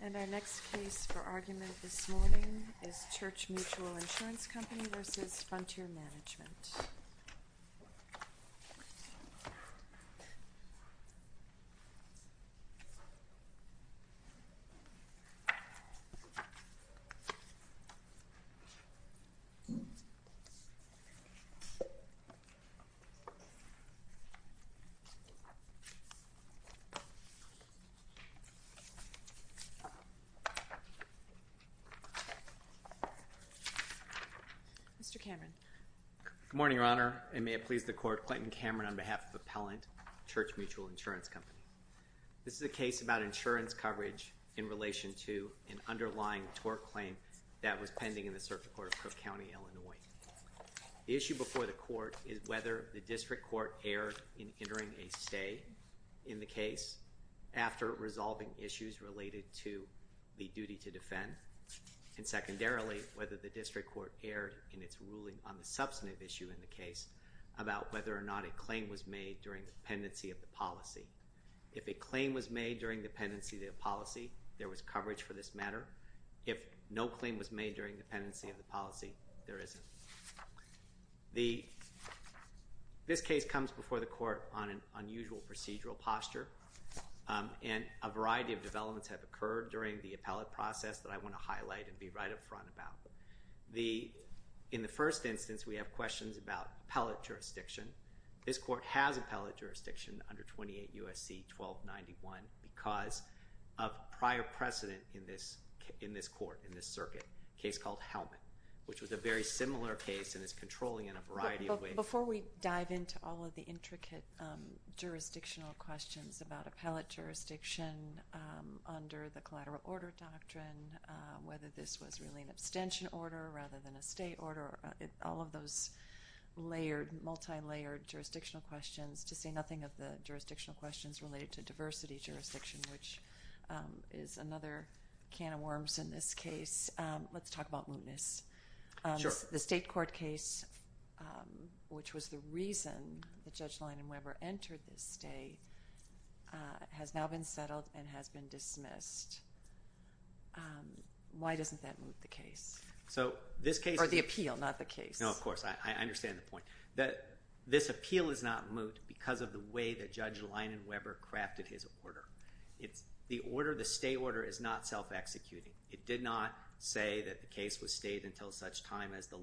And our next case for argument this morning is Church Mutual Insurance Company v. Frontier Management. Mr. Cameron. Good morning, Your Honor, and may it please the Court, Clinton Cameron on behalf of Appellant, Church Mutual Insurance Company. This is a case about insurance coverage in relation to an underlying tort claim that was pending in the Circuit Court of Cook County, Illinois. The issue before the Court is whether the District Court erred in entering a stay in the case after resolving issues related to the duty to defend, and secondarily, whether the District Court erred in its ruling on the substantive issue in the case about whether or not a claim was made during the pendency of the policy. If a claim was made during the pendency of the policy, there was coverage for this matter. If no claim was made during the pendency of the policy, there isn't. This case comes before the Court on an unusual procedural posture, and a variety of developments have occurred during the appellate process that I want to highlight and be right up front about. In the first instance, we have questions about appellate jurisdiction. This Court has appellate jurisdiction under 28 U.S.C. 1291 because of prior precedent in this Court, in this Circuit, a case called Hellman, which was a very similar case and is controlling in a variety of ways. Before we dive into all of the intricate jurisdictional questions about appellate jurisdiction under the collateral order doctrine, whether this was really an abstention order rather than a stay order, all of those layered, multi-layered jurisdictional questions, to say nothing of the jurisdictional questions related to diversity jurisdiction, which is another can of worms in this case. Let's talk about mootness. The state court case, which was the reason that Judge Leinan-Weber entered this stay, has now been settled and has been dismissed. Why doesn't that moot the case? Or the appeal, not the case. No, of course. I understand the point. This appeal is not moot because of the way that Judge Leinan-Weber crafted his order. The order, the stay order, is not self-executing. It did not say that the case was stayed until such time as the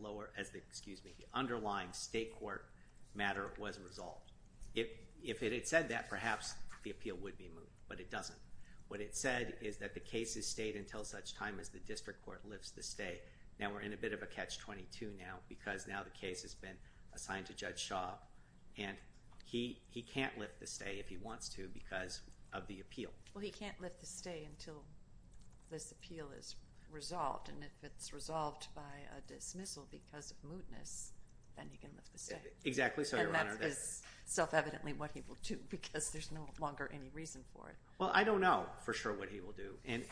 underlying state court matter was resolved. If it had said that, perhaps the appeal would be moot, but it doesn't. What it said is that the case is stayed until such time as the district court lifts the stay. Now we're in a bit of a catch-22 now because now the case has been assigned to Judge Shaw, and he can't lift the stay if he wants to because of the appeal. Well, he can't lift the stay until this appeal is resolved, and if it's resolved by a dismissal because of mootness, then he can lift the stay. Exactly so, Your Honor. And that is self-evidently what he will do because there's no longer any reason for it. Well, I don't know for sure what he will do, and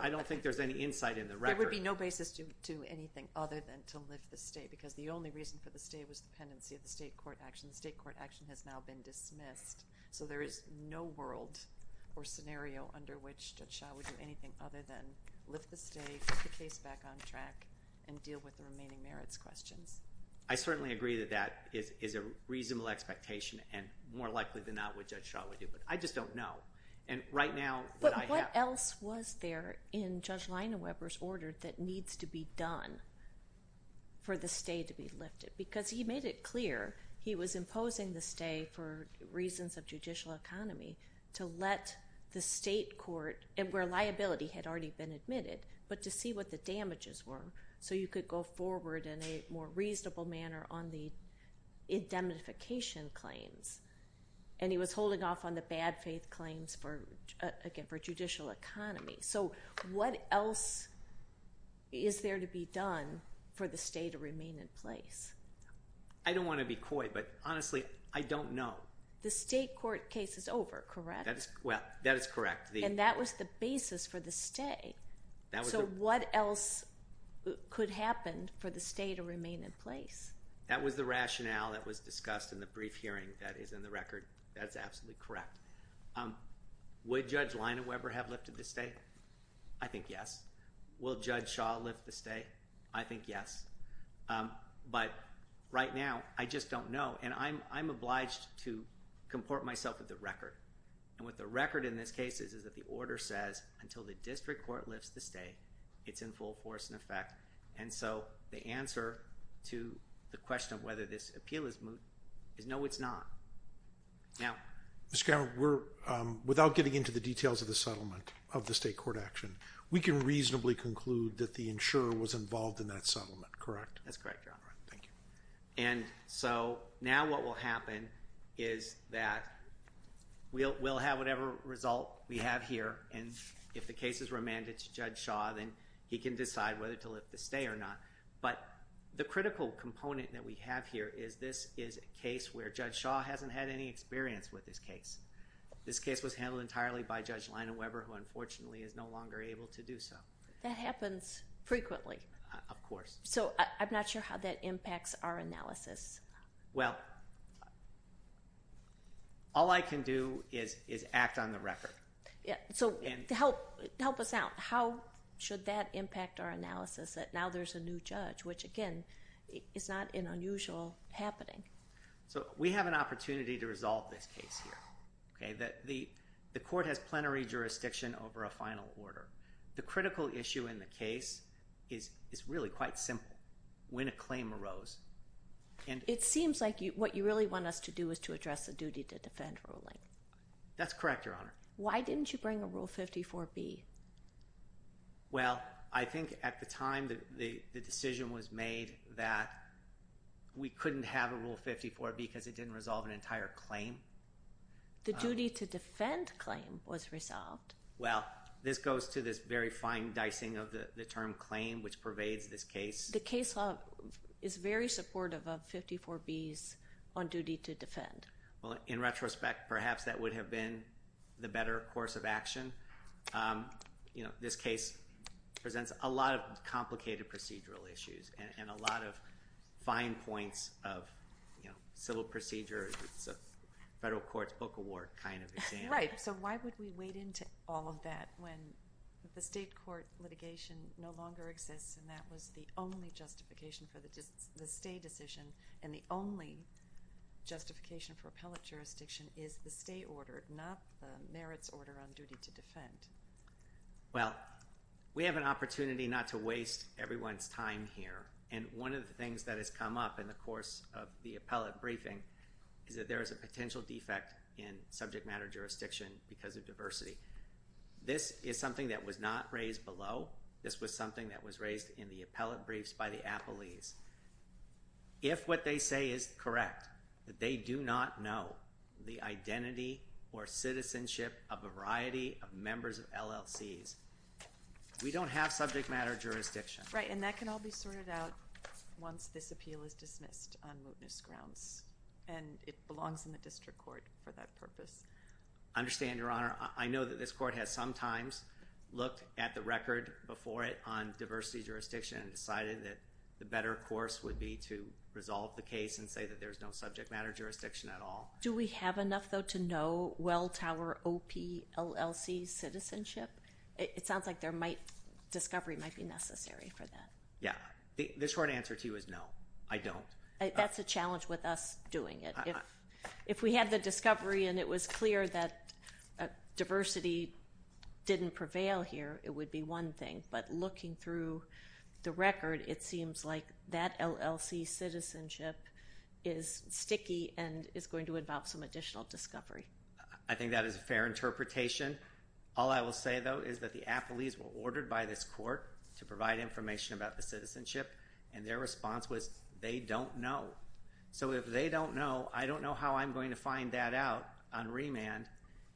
I don't think there's any insight in the record. There would be no basis to do anything other than to lift the stay because the only reason for the stay was the pendency of the state court action. The state court action has now been dismissed, so there is no world or scenario under which Judge Shaw would do anything other than lift the stay, put the case back on track, and deal with the remaining merits questions. I certainly agree that that is a reasonable expectation and more likely than not what Judge Shaw would do, but I just don't know. And right now, what I have— in Judge Leinaweber's order that needs to be done for the stay to be lifted because he made it clear he was imposing the stay for reasons of judicial economy to let the state court, where liability had already been admitted, but to see what the damages were so you could go forward in a more reasonable manner on the indemnification claims. And he was holding off on the bad faith claims for, again, for judicial economy. So what else is there to be done for the stay to remain in place? I don't want to be coy, but honestly, I don't know. The state court case is over, correct? Well, that is correct. And that was the basis for the stay. So what else could happen for the stay to remain in place? That was the rationale that was discussed in the brief hearing that is in the record. That is absolutely correct. Would Judge Leinaweber have lifted the stay? I think yes. Will Judge Shaw lift the stay? I think yes. But right now, I just don't know. And I'm obliged to comport myself with the record. And what the record in this case is that the order says until the district court lifts the stay, it's in full force and effect. And so the answer to the question of whether this appeal is moot is no, it's not. Mr. Cavanaugh, without getting into the details of the settlement of the state court action, we can reasonably conclude that the insurer was involved in that settlement, correct? That's correct, Your Honor. Thank you. And so now what will happen is that we'll have whatever result we have here. And if the case is remanded to Judge Shaw, then he can decide whether to lift the stay or not. But the critical component that we have here is this is a case where Judge Shaw hasn't had any experience with this case. This case was handled entirely by Judge Leinaweber, who unfortunately is no longer able to do so. That happens frequently. Of course. So I'm not sure how that impacts our analysis. Well, all I can do is act on the record. So help us out. How should that impact our analysis that now there's a new judge, which, again, is not an unusual happening? So we have an opportunity to resolve this case here. The court has plenary jurisdiction over a final order. The critical issue in the case is really quite simple. When a claim arose. It seems like what you really want us to do is to address the duty to defend ruling. That's correct, Your Honor. Why didn't you bring a Rule 54B? Well, I think at the time the decision was made that we couldn't have a Rule 54B because it didn't resolve an entire claim. The duty to defend claim was resolved. Well, this goes to this very fine dicing of the term claim, which pervades this case. The case law is very supportive of 54Bs on duty to defend. Well, in retrospect, perhaps that would have been the better course of action. This case presents a lot of complicated procedural issues and a lot of fine points of civil procedure. It's a federal court's book award kind of exam. Right. So why would we wade into all of that when the state court litigation no longer exists and that was the only justification for the stay decision and the only justification for appellate jurisdiction is the stay order, not the merits order on duty to defend? Well, we have an opportunity not to waste everyone's time here. And one of the things that has come up in the course of the appellate briefing is that there is a potential defect in subject matter jurisdiction because of diversity. This is something that was not raised below. This was something that was raised in the appellate briefs by the appellees. If what they say is correct, that they do not know the identity or citizenship of a variety of members of LLCs, we don't have subject matter jurisdiction. Right, and that can all be sorted out once this appeal is dismissed on mootness grounds. And it belongs in the district court for that purpose. I understand, Your Honor. I know that this court has sometimes looked at the record before it on diversity jurisdiction and decided that the better course would be to resolve the case and say that there's no subject matter jurisdiction at all. Do we have enough, though, to know Welltower OPLLC's citizenship? It sounds like discovery might be necessary for that. Yeah. The short answer to you is no, I don't. That's a challenge with us doing it. If we had the discovery and it was clear that diversity didn't prevail here, it would be one thing. But looking through the record, it seems like that LLC's citizenship is sticky and is going to involve some additional discovery. I think that is a fair interpretation. All I will say, though, is that the appellees were ordered by this court to provide information about the citizenship, and their response was they don't know. So if they don't know, I don't know how I'm going to find that out on remand.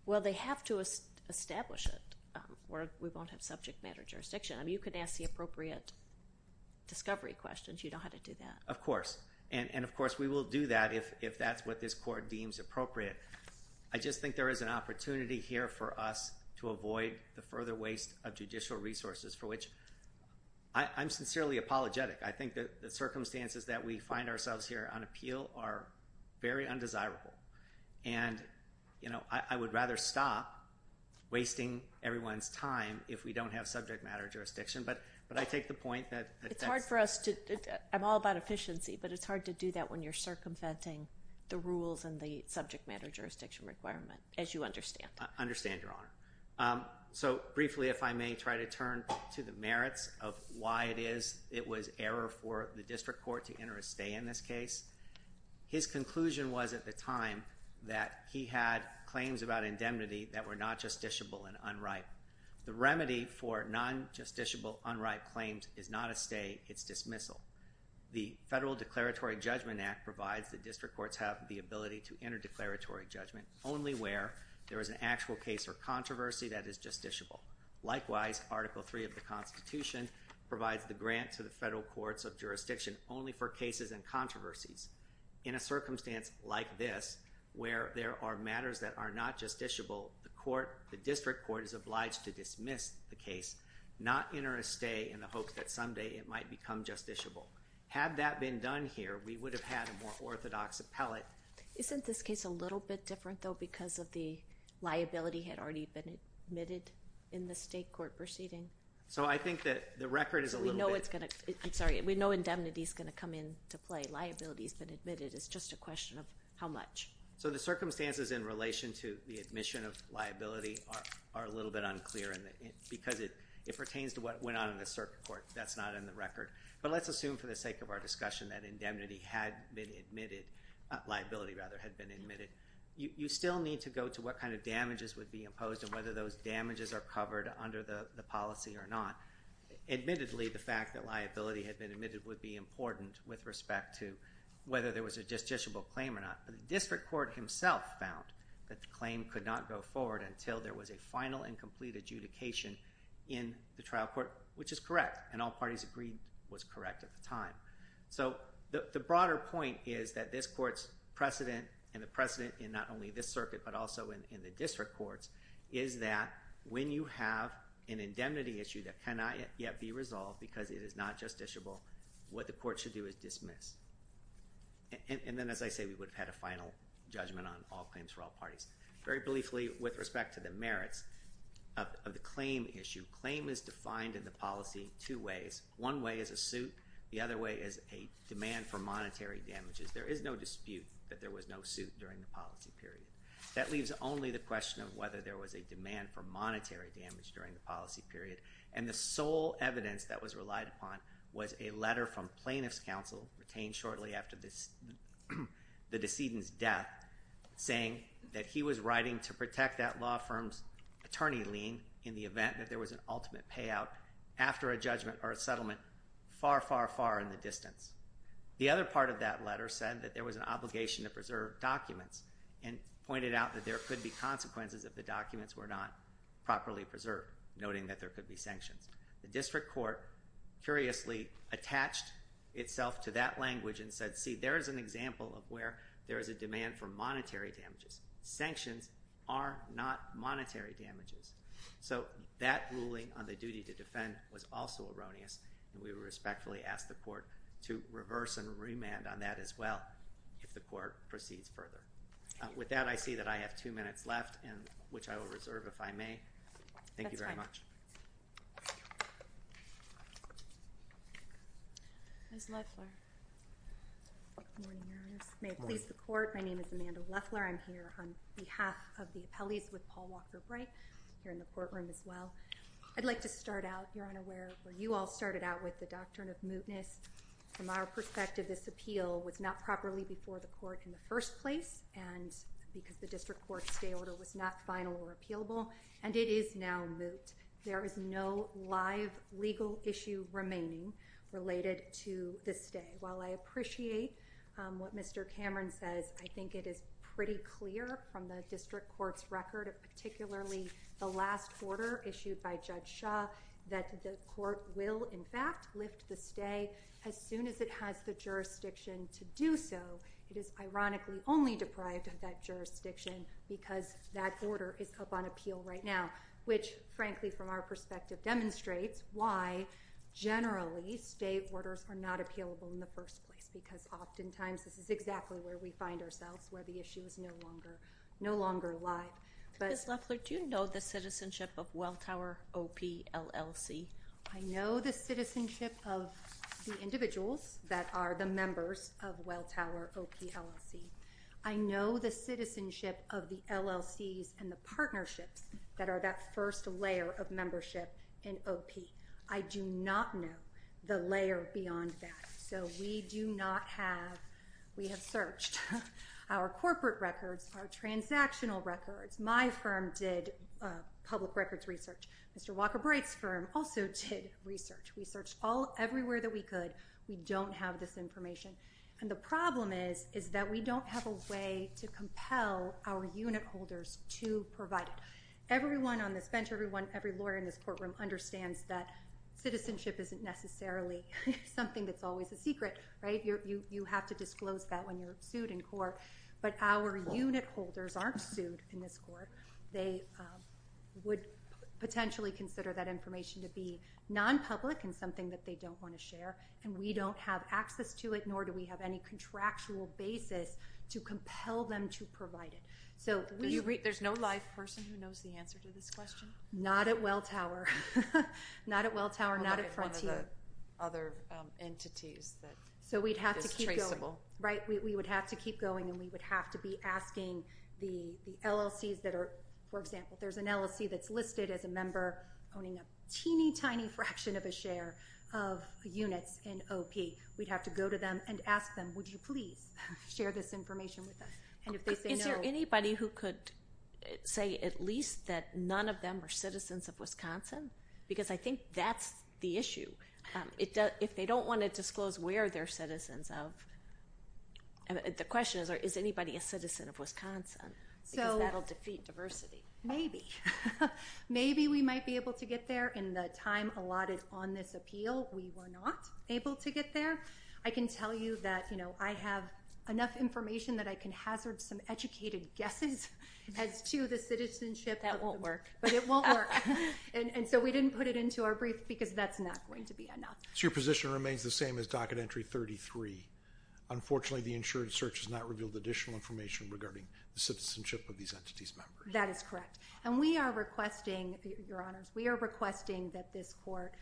Well, they have to establish it or we won't have subject matter jurisdiction. You can ask the appropriate discovery questions. You know how to do that. Of course. And, of course, we will do that if that's what this court deems appropriate. I just think there is an opportunity here for us to avoid the further waste of judicial resources for which I'm sincerely apologetic. I think the circumstances that we find ourselves here on appeal are very undesirable. And, you know, I would rather stop wasting everyone's time if we don't have subject matter jurisdiction. But I take the point that it's hard for us. I'm all about efficiency, but it's hard to do that when you're circumventing the rules and the subject matter jurisdiction requirement, as you understand. I understand, Your Honor. So briefly, if I may, try to turn to the merits of why it was error for the district court to enter a stay in this case. His conclusion was at the time that he had claims about indemnity that were not justiciable and unripe. The remedy for non-justiciable, unripe claims is not a stay. It's dismissal. The Federal Declaratory Judgment Act provides the district courts have the ability to enter declaratory judgment only where there is an actual case or controversy that is justiciable. Likewise, Article III of the Constitution provides the grant to the federal courts of jurisdiction only for cases and controversies. In a circumstance like this, where there are matters that are not justiciable, the court, the district court is obliged to dismiss the case, not enter a stay in the hopes that someday it might become justiciable. Had that been done here, we would have had a more orthodox appellate. Isn't this case a little bit different, though, because of the liability had already been admitted in the state court proceeding? So I think that the record is a little bit— I'm sorry, we know indemnity is going to come into play. Liability has been admitted. It's just a question of how much. So the circumstances in relation to the admission of liability are a little bit unclear because it pertains to what went on in the circuit court. That's not in the record. But let's assume for the sake of our discussion that indemnity had been admitted—liability, rather, had been admitted. You still need to go to what kind of damages would be imposed and whether those damages are covered under the policy or not. Admittedly, the fact that liability had been admitted would be important with respect to whether there was a justiciable claim or not. But the district court himself found that the claim could not go forward until there was a final and complete adjudication in the trial court, which is correct. And all parties agreed it was correct at the time. So the broader point is that this court's precedent and the precedent in not only this circuit but also in the district courts is that when you have an indemnity issue that cannot yet be resolved because it is not justiciable, what the court should do is dismiss. And then, as I say, we would have had a final judgment on all claims for all parties. Very briefly, with respect to the merits of the claim issue, claim is defined in the policy two ways. One way is a suit. The other way is a demand for monetary damages. There is no dispute that there was no suit during the policy period. That leaves only the question of whether there was a demand for monetary damage during the policy period. And the sole evidence that was relied upon was a letter from plaintiff's counsel retained shortly after the decedent's death saying that he was writing to protect that law firm's attorney lien in the event that there was an ultimate payout after a judgment or a settlement far, far, far in the distance. The other part of that letter said that there was an obligation to preserve documents and pointed out that there could be consequences if the documents were not properly preserved, noting that there could be sanctions. The district court curiously attached itself to that language and said, see, there is an example of where there is a demand for monetary damages. Sanctions are not monetary damages. So that ruling on the duty to defend was also erroneous. And we respectfully ask the court to reverse and remand on that as well if the court proceeds further. With that, I see that I have two minutes left, which I will reserve if I may. Thank you very much. Ms. Leffler. Good morning, Your Honors. May it please the court. My name is Amanda Leffler. I'm here on behalf of the appellees with Paul Walker Bright here in the courtroom as well. I'd like to start out, Your Honor, where you all started out with the doctrine of mootness. From our perspective, this appeal was not properly before the court in the first place and because the district court stay order was not final or appealable. And it is now moot. There is no live legal issue remaining related to this day. And while I appreciate what Mr. Cameron says, I think it is pretty clear from the district court's record, particularly the last order issued by Judge Shaw, that the court will, in fact, lift the stay as soon as it has the jurisdiction to do so. It is ironically only deprived of that jurisdiction because that order is up on appeal right now, which frankly, from our perspective, demonstrates why generally stay orders are not appealable in the first place. Because oftentimes this is exactly where we find ourselves, where the issue is no longer alive. Ms. Leffler, do you know the citizenship of Welltower OPLLC? I know the citizenship of the individuals that are the members of Welltower OPLLC. I know the citizenship of the LLCs and the partnerships that are that first layer of membership in OP. I do not know the layer beyond that. So we do not have, we have searched our corporate records, our transactional records. My firm did public records research. Mr. Walker Bright's firm also did research. We searched everywhere that we could. We don't have this information. And the problem is, is that we don't have a way to compel our unit holders to provide it. Everyone on this bench, everyone, every lawyer in this courtroom understands that citizenship isn't necessarily something that's always a secret, right? You have to disclose that when you're sued in court. But our unit holders aren't sued in this court. They would potentially consider that information to be nonpublic and something that they don't want to share. And we don't have access to it, nor do we have any contractual basis to compel them to provide it. There's no live person who knows the answer to this question? Not at Welltower. Not at Welltower, not at Frontier. Other entities that is traceable. So we'd have to keep going, right? We would have to keep going and we would have to be asking the LLCs that are, for example, there's an LLC that's listed as a member owning a teeny tiny fraction of a share of units in OP. We'd have to go to them and ask them, would you please share this information with us? Is there anybody who could say at least that none of them are citizens of Wisconsin? Because I think that's the issue. If they don't want to disclose where they're citizens of, the question is, is anybody a citizen of Wisconsin? Because that will defeat diversity. Maybe. Maybe we might be able to get there in the time allotted on this appeal. We were not able to get there. I can tell you that I have enough information that I can hazard some educated guesses as to the citizenship. That won't work. But it won't work. And so we didn't put it into our brief because that's not going to be enough. So your position remains the same as docket entry 33. Unfortunately, the insured search has not revealed additional information regarding the citizenship of these entities' members. That is correct. And we are requesting, Your Honors, we are requesting that this court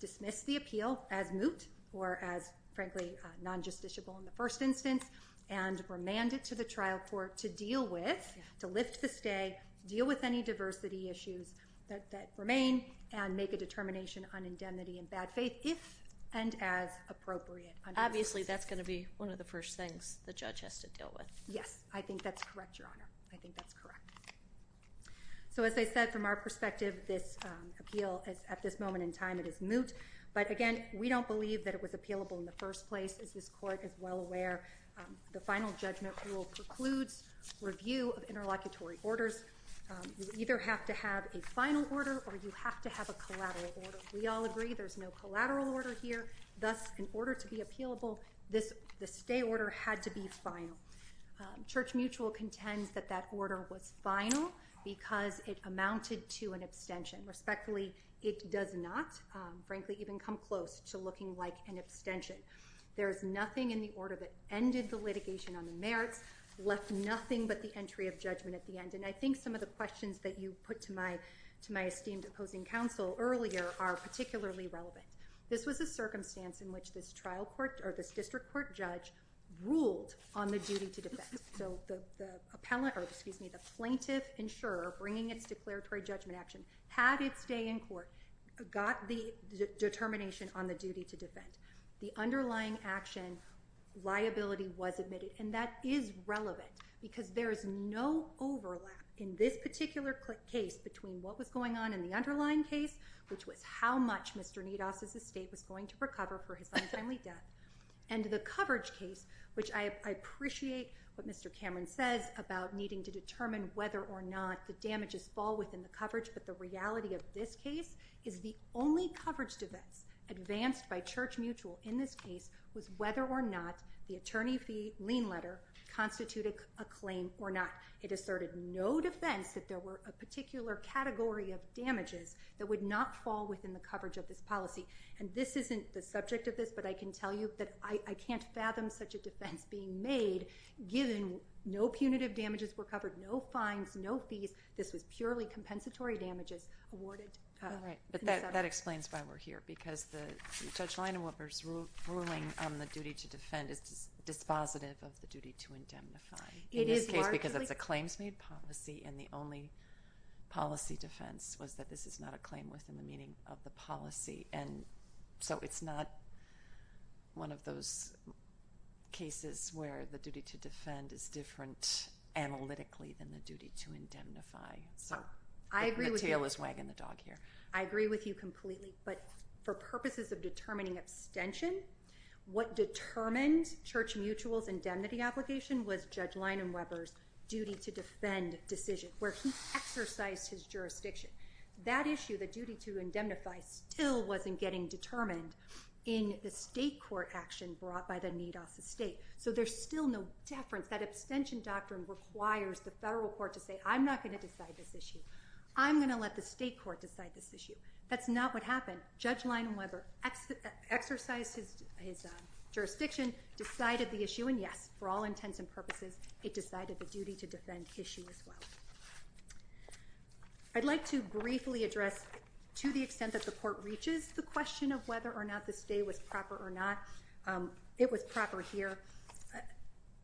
dismiss the appeal as moot or as, frankly, non-justiciable in the first instance, and remand it to the trial court to deal with, to lift the stay, deal with any diversity issues that remain, and make a determination on indemnity and bad faith if and as appropriate. Obviously, that's going to be one of the first things the judge has to deal with. Yes. I think that's correct, Your Honor. I think that's correct. So as I said, from our perspective, this appeal, at this moment in time, it is moot. But, again, we don't believe that it was appealable in the first place, as this court is well aware. The final judgment rule precludes review of interlocutory orders. You either have to have a final order or you have to have a collateral order. We all agree there's no collateral order here. Thus, in order to be appealable, the stay order had to be final. Church Mutual contends that that order was final because it amounted to an abstention. Respectfully, it does not, frankly, even come close to looking like an abstention. There is nothing in the order that ended the litigation on the merits, left nothing but the entry of judgment at the end. And I think some of the questions that you put to my esteemed opposing counsel earlier are particularly relevant. This was a circumstance in which this district court judge ruled on the duty to defend. So the plaintiff insurer bringing its declaratory judgment action had its day in court, got the determination on the duty to defend. The underlying action liability was admitted. And that is relevant because there is no overlap in this particular case between what was going on in the underlying case, which was how much Mr. Nidos' estate was going to recover for his untimely death, and the coverage case, which I appreciate what Mr. Cameron says about needing to determine whether or not the damages fall within the coverage. But the reality of this case is the only coverage defense advanced by Church Mutual in this case was whether or not the attorney fee lien letter constituted a claim or not. It asserted no defense that there were a particular category of damages that would not fall within the coverage of this policy. And this isn't the subject of this, but I can tell you that I can't fathom such a defense being made, given no punitive damages were covered, no fines, no fees. This was purely compensatory damages awarded. All right. But that explains why we're here, because Judge Leinauoper's ruling on the duty to defend is dispositive of the duty to indemnify. In this case, because it's a claims-made policy, and the only policy defense was that this is not a claim within the meaning of the policy. And so it's not one of those cases where the duty to defend is different analytically than the duty to indemnify. So the tail is wagging the dog here. I agree with you completely. But for purposes of determining abstention, what determined Church Mutual's indemnity application was Judge Leinauoper's duty to defend decision, where he exercised his jurisdiction. That issue, the duty to indemnify, still wasn't getting determined in the state court action brought by the need office state. So there's still no deference. That abstention doctrine requires the federal court to say, I'm not going to decide this issue. I'm going to let the state court decide this issue. That's not what happened. Judge Leinauoper exercised his jurisdiction, decided the issue, and yes, for all intents and purposes, it decided the duty to defend issue as well. I'd like to briefly address, to the extent that the court reaches the question of whether or not the stay was proper or not, it was proper here.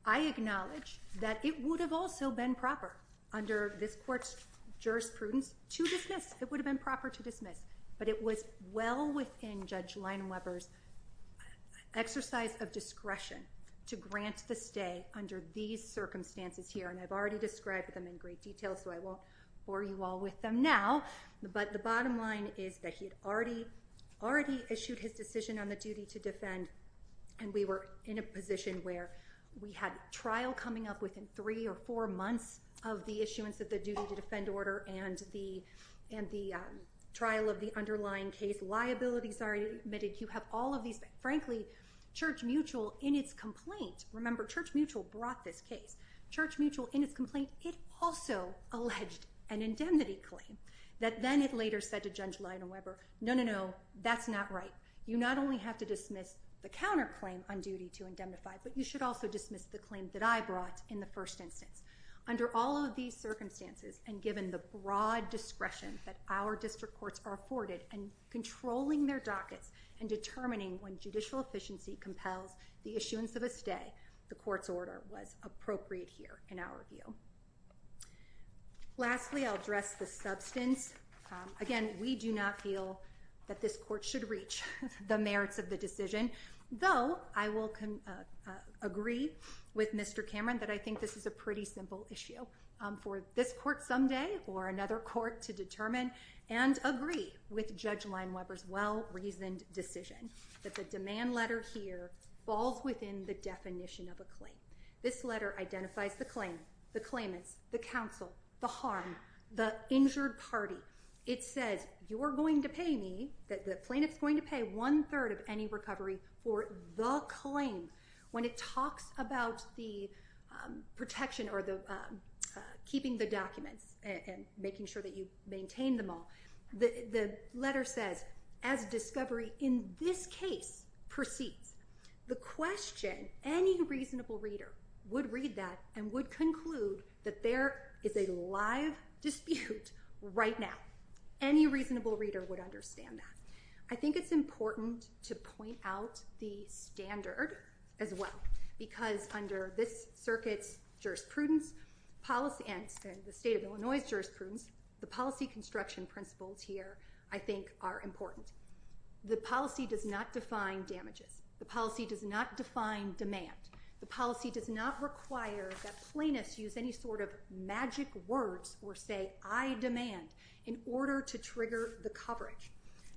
I acknowledge that it would have also been proper under this court's jurisprudence to dismiss. It would have been proper to dismiss. But it was well within Judge Leinauoper's exercise of discretion to grant the stay under these circumstances here. And I've already described them in great detail, so I won't bore you all with them now. But the bottom line is that he had already issued his decision on the duty to defend, and we were in a position where we had trial coming up within three or four months of the issuance of the duty to defend order and the trial of the underlying case. Liabilities are admitted. You have all of these things. Frankly, Church Mutual, in its complaint, remember, Church Mutual brought this case. Church Mutual, in its complaint, it also alleged an indemnity claim that then it later said to Judge Leinauoper, no, no, no, that's not right. You not only have to dismiss the counterclaim on duty to indemnify, but you should also dismiss the claim that I brought in the first instance. Under all of these circumstances and given the broad discretion that our district courts are afforded in controlling their dockets and determining when judicial efficiency compels the issuance of a stay, the court's order was appropriate here in our view. Lastly, I'll address the substance. Again, we do not feel that this court should reach the merits of the decision, though I will agree with Mr. Cameron that I think this is a pretty simple issue for this court someday or another court to determine and agree with Judge Leinauoper's well-reasoned decision that the demand letter here falls within the definition of a claim. This letter identifies the claim, the claimants, the counsel, the harm, the injured party. It says, you're going to pay me, the plaintiff's going to pay one-third of any recovery for the claim. When it talks about the protection or keeping the documents and making sure that you maintain them all, the letter says, as discovery in this case proceeds, the question any reasonable reader would read that and would conclude that there is a live dispute right now. Any reasonable reader would understand that. I think it's important to point out the standard as well because under this circuit's jurisprudence policy and the state of Illinois' jurisprudence, the policy construction principles here I think are important. The policy does not define damages. The policy does not define demand. The policy does not require that plaintiffs use any sort of magic words or say, I demand, in order to trigger the coverage.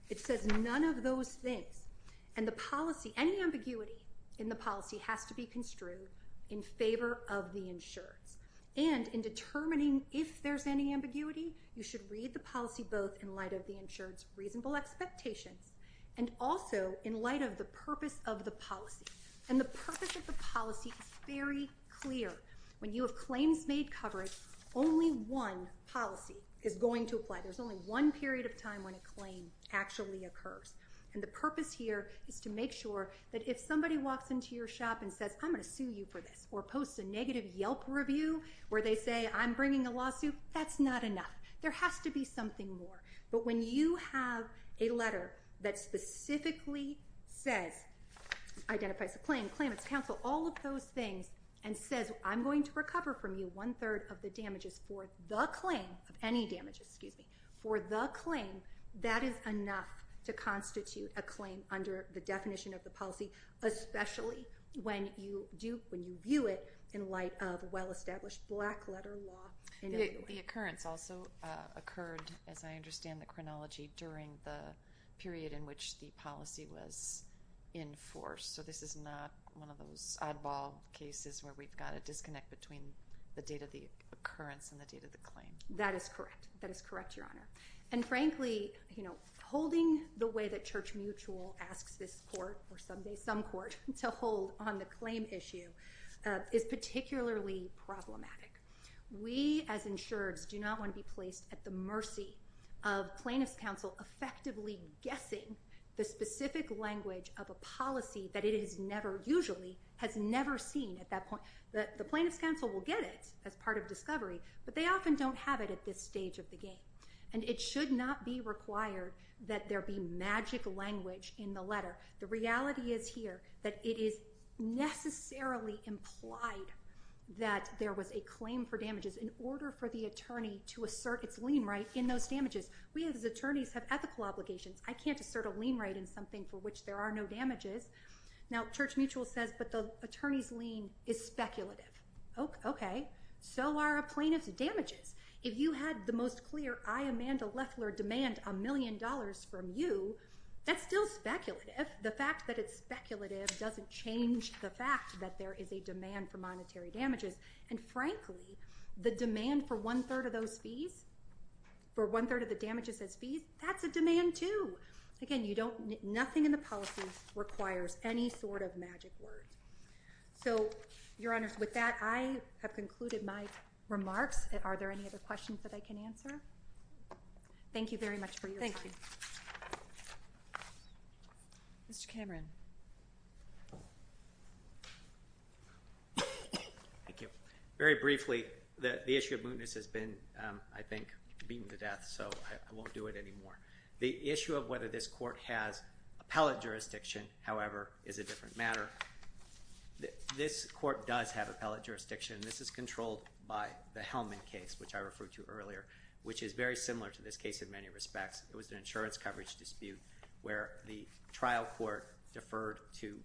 It says none of those things. And the policy, any ambiguity in the policy has to be construed in favor of the insured and in determining if there's any ambiguity, you should read the policy both in light of the insured's reasonable expectations and also in light of the purpose of the policy. And the purpose of the policy is very clear. When you have claims made coverage, only one policy is going to apply. There's only one period of time when a claim actually occurs. And the purpose here is to make sure that if somebody walks into your shop and says, I'm going to sue you for this, or posts a negative Yelp review where they say I'm bringing a lawsuit, that's not enough. There has to be something more. But when you have a letter that specifically says, identifies a claim, claim it's counsel, all of those things, and says I'm going to recover from you one-third of the damages for the claim, of any damages, excuse me, for the claim, that is enough to constitute a claim under the definition of the policy, especially when you view it in light of well-established black-letter law. The occurrence also occurred, as I understand the chronology, during the period in which the policy was enforced. So this is not one of those oddball cases where we've got a disconnect between the date of the occurrence and the date of the claim. That is correct. That is correct, Your Honor. And frankly, holding the way that Church Mutual asks this court, or someday some court, to hold on the claim issue is particularly problematic. We, as insurers, do not want to be placed at the mercy of plaintiff's counsel effectively guessing the specific language of a policy that it has never, usually, has never seen at that point. The plaintiff's counsel will get it as part of discovery, but they often don't have it at this stage of the game. And it should not be required that there be magic language in the letter. The reality is here that it is necessarily implied that there was a claim for damages in order for the attorney to assert its lien right in those damages. We, as attorneys, have ethical obligations. I can't assert a lien right in something for which there are no damages. Now, Church Mutual says, but the attorney's lien is speculative. Okay. So are a plaintiff's damages. If you had the most clear, I, Amanda Leffler, demand a million dollars from you, that's still speculative. The fact that it's speculative doesn't change the fact that there is a demand for monetary damages. And frankly, the demand for one-third of those fees, for one-third of the damages as fees, that's a demand too. Again, nothing in the policy requires any sort of magic words. So, Your Honor, with that, I have concluded my remarks. Are there any other questions that I can answer? Thank you very much for your time. Mr. Cameron. Thank you. Very briefly, the issue of mootness has been, I think, beaten to death, so I won't do it anymore. The issue of whether this court has appellate jurisdiction, however, is a different matter. This court does have appellate jurisdiction. This is controlled by the Hellman case, which I referred to earlier, which is very similar to this case in many respects. It was an insurance coverage dispute where the trial court deferred to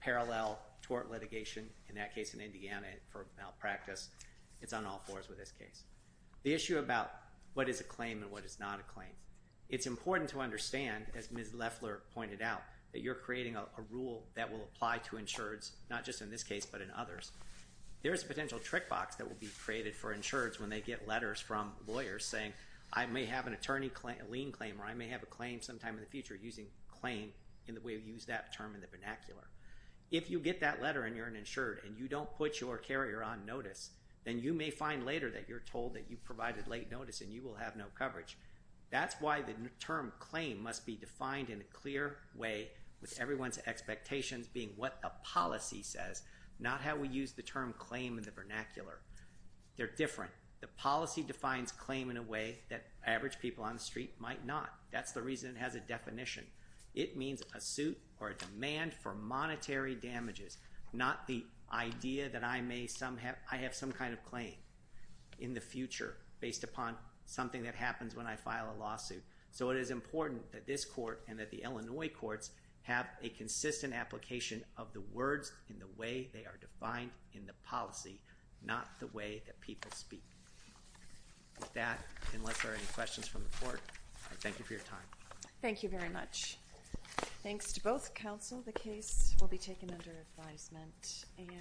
parallel tort litigation, in that case in Indiana, for malpractice. It's on all fours with this case. The issue about what is a claim and what is not a claim, it's important to understand, as Ms. Leffler pointed out, that you're creating a rule that will apply to insureds, not just in this case, but in others. There is a potential trick box that will be created for insureds when they get letters from lawyers saying, I may have a lien claim or I may have a claim sometime in the future, using claim in the way we use that term in the vernacular. If you get that letter and you're an insured and you don't put your carrier on notice, then you may find later that you're told that you provided late notice and you will have no coverage. That's why the term claim must be defined in a clear way with everyone's expectations being what a policy says, not how we use the term claim in the vernacular. They're different. The policy defines claim in a way that average people on the street might not. That's the reason it has a definition. It means a suit or a demand for monetary damages, not the idea that I have some kind of claim in the future, based upon something that happens when I file a lawsuit. So it is important that this court and that the Illinois courts have a consistent application of the words in the way they are defined in the policy, not the way that people speak. With that, unless there are any questions from the court, I thank you for your time. Thank you very much. Thanks to both counsel. The case will be taken under advisement.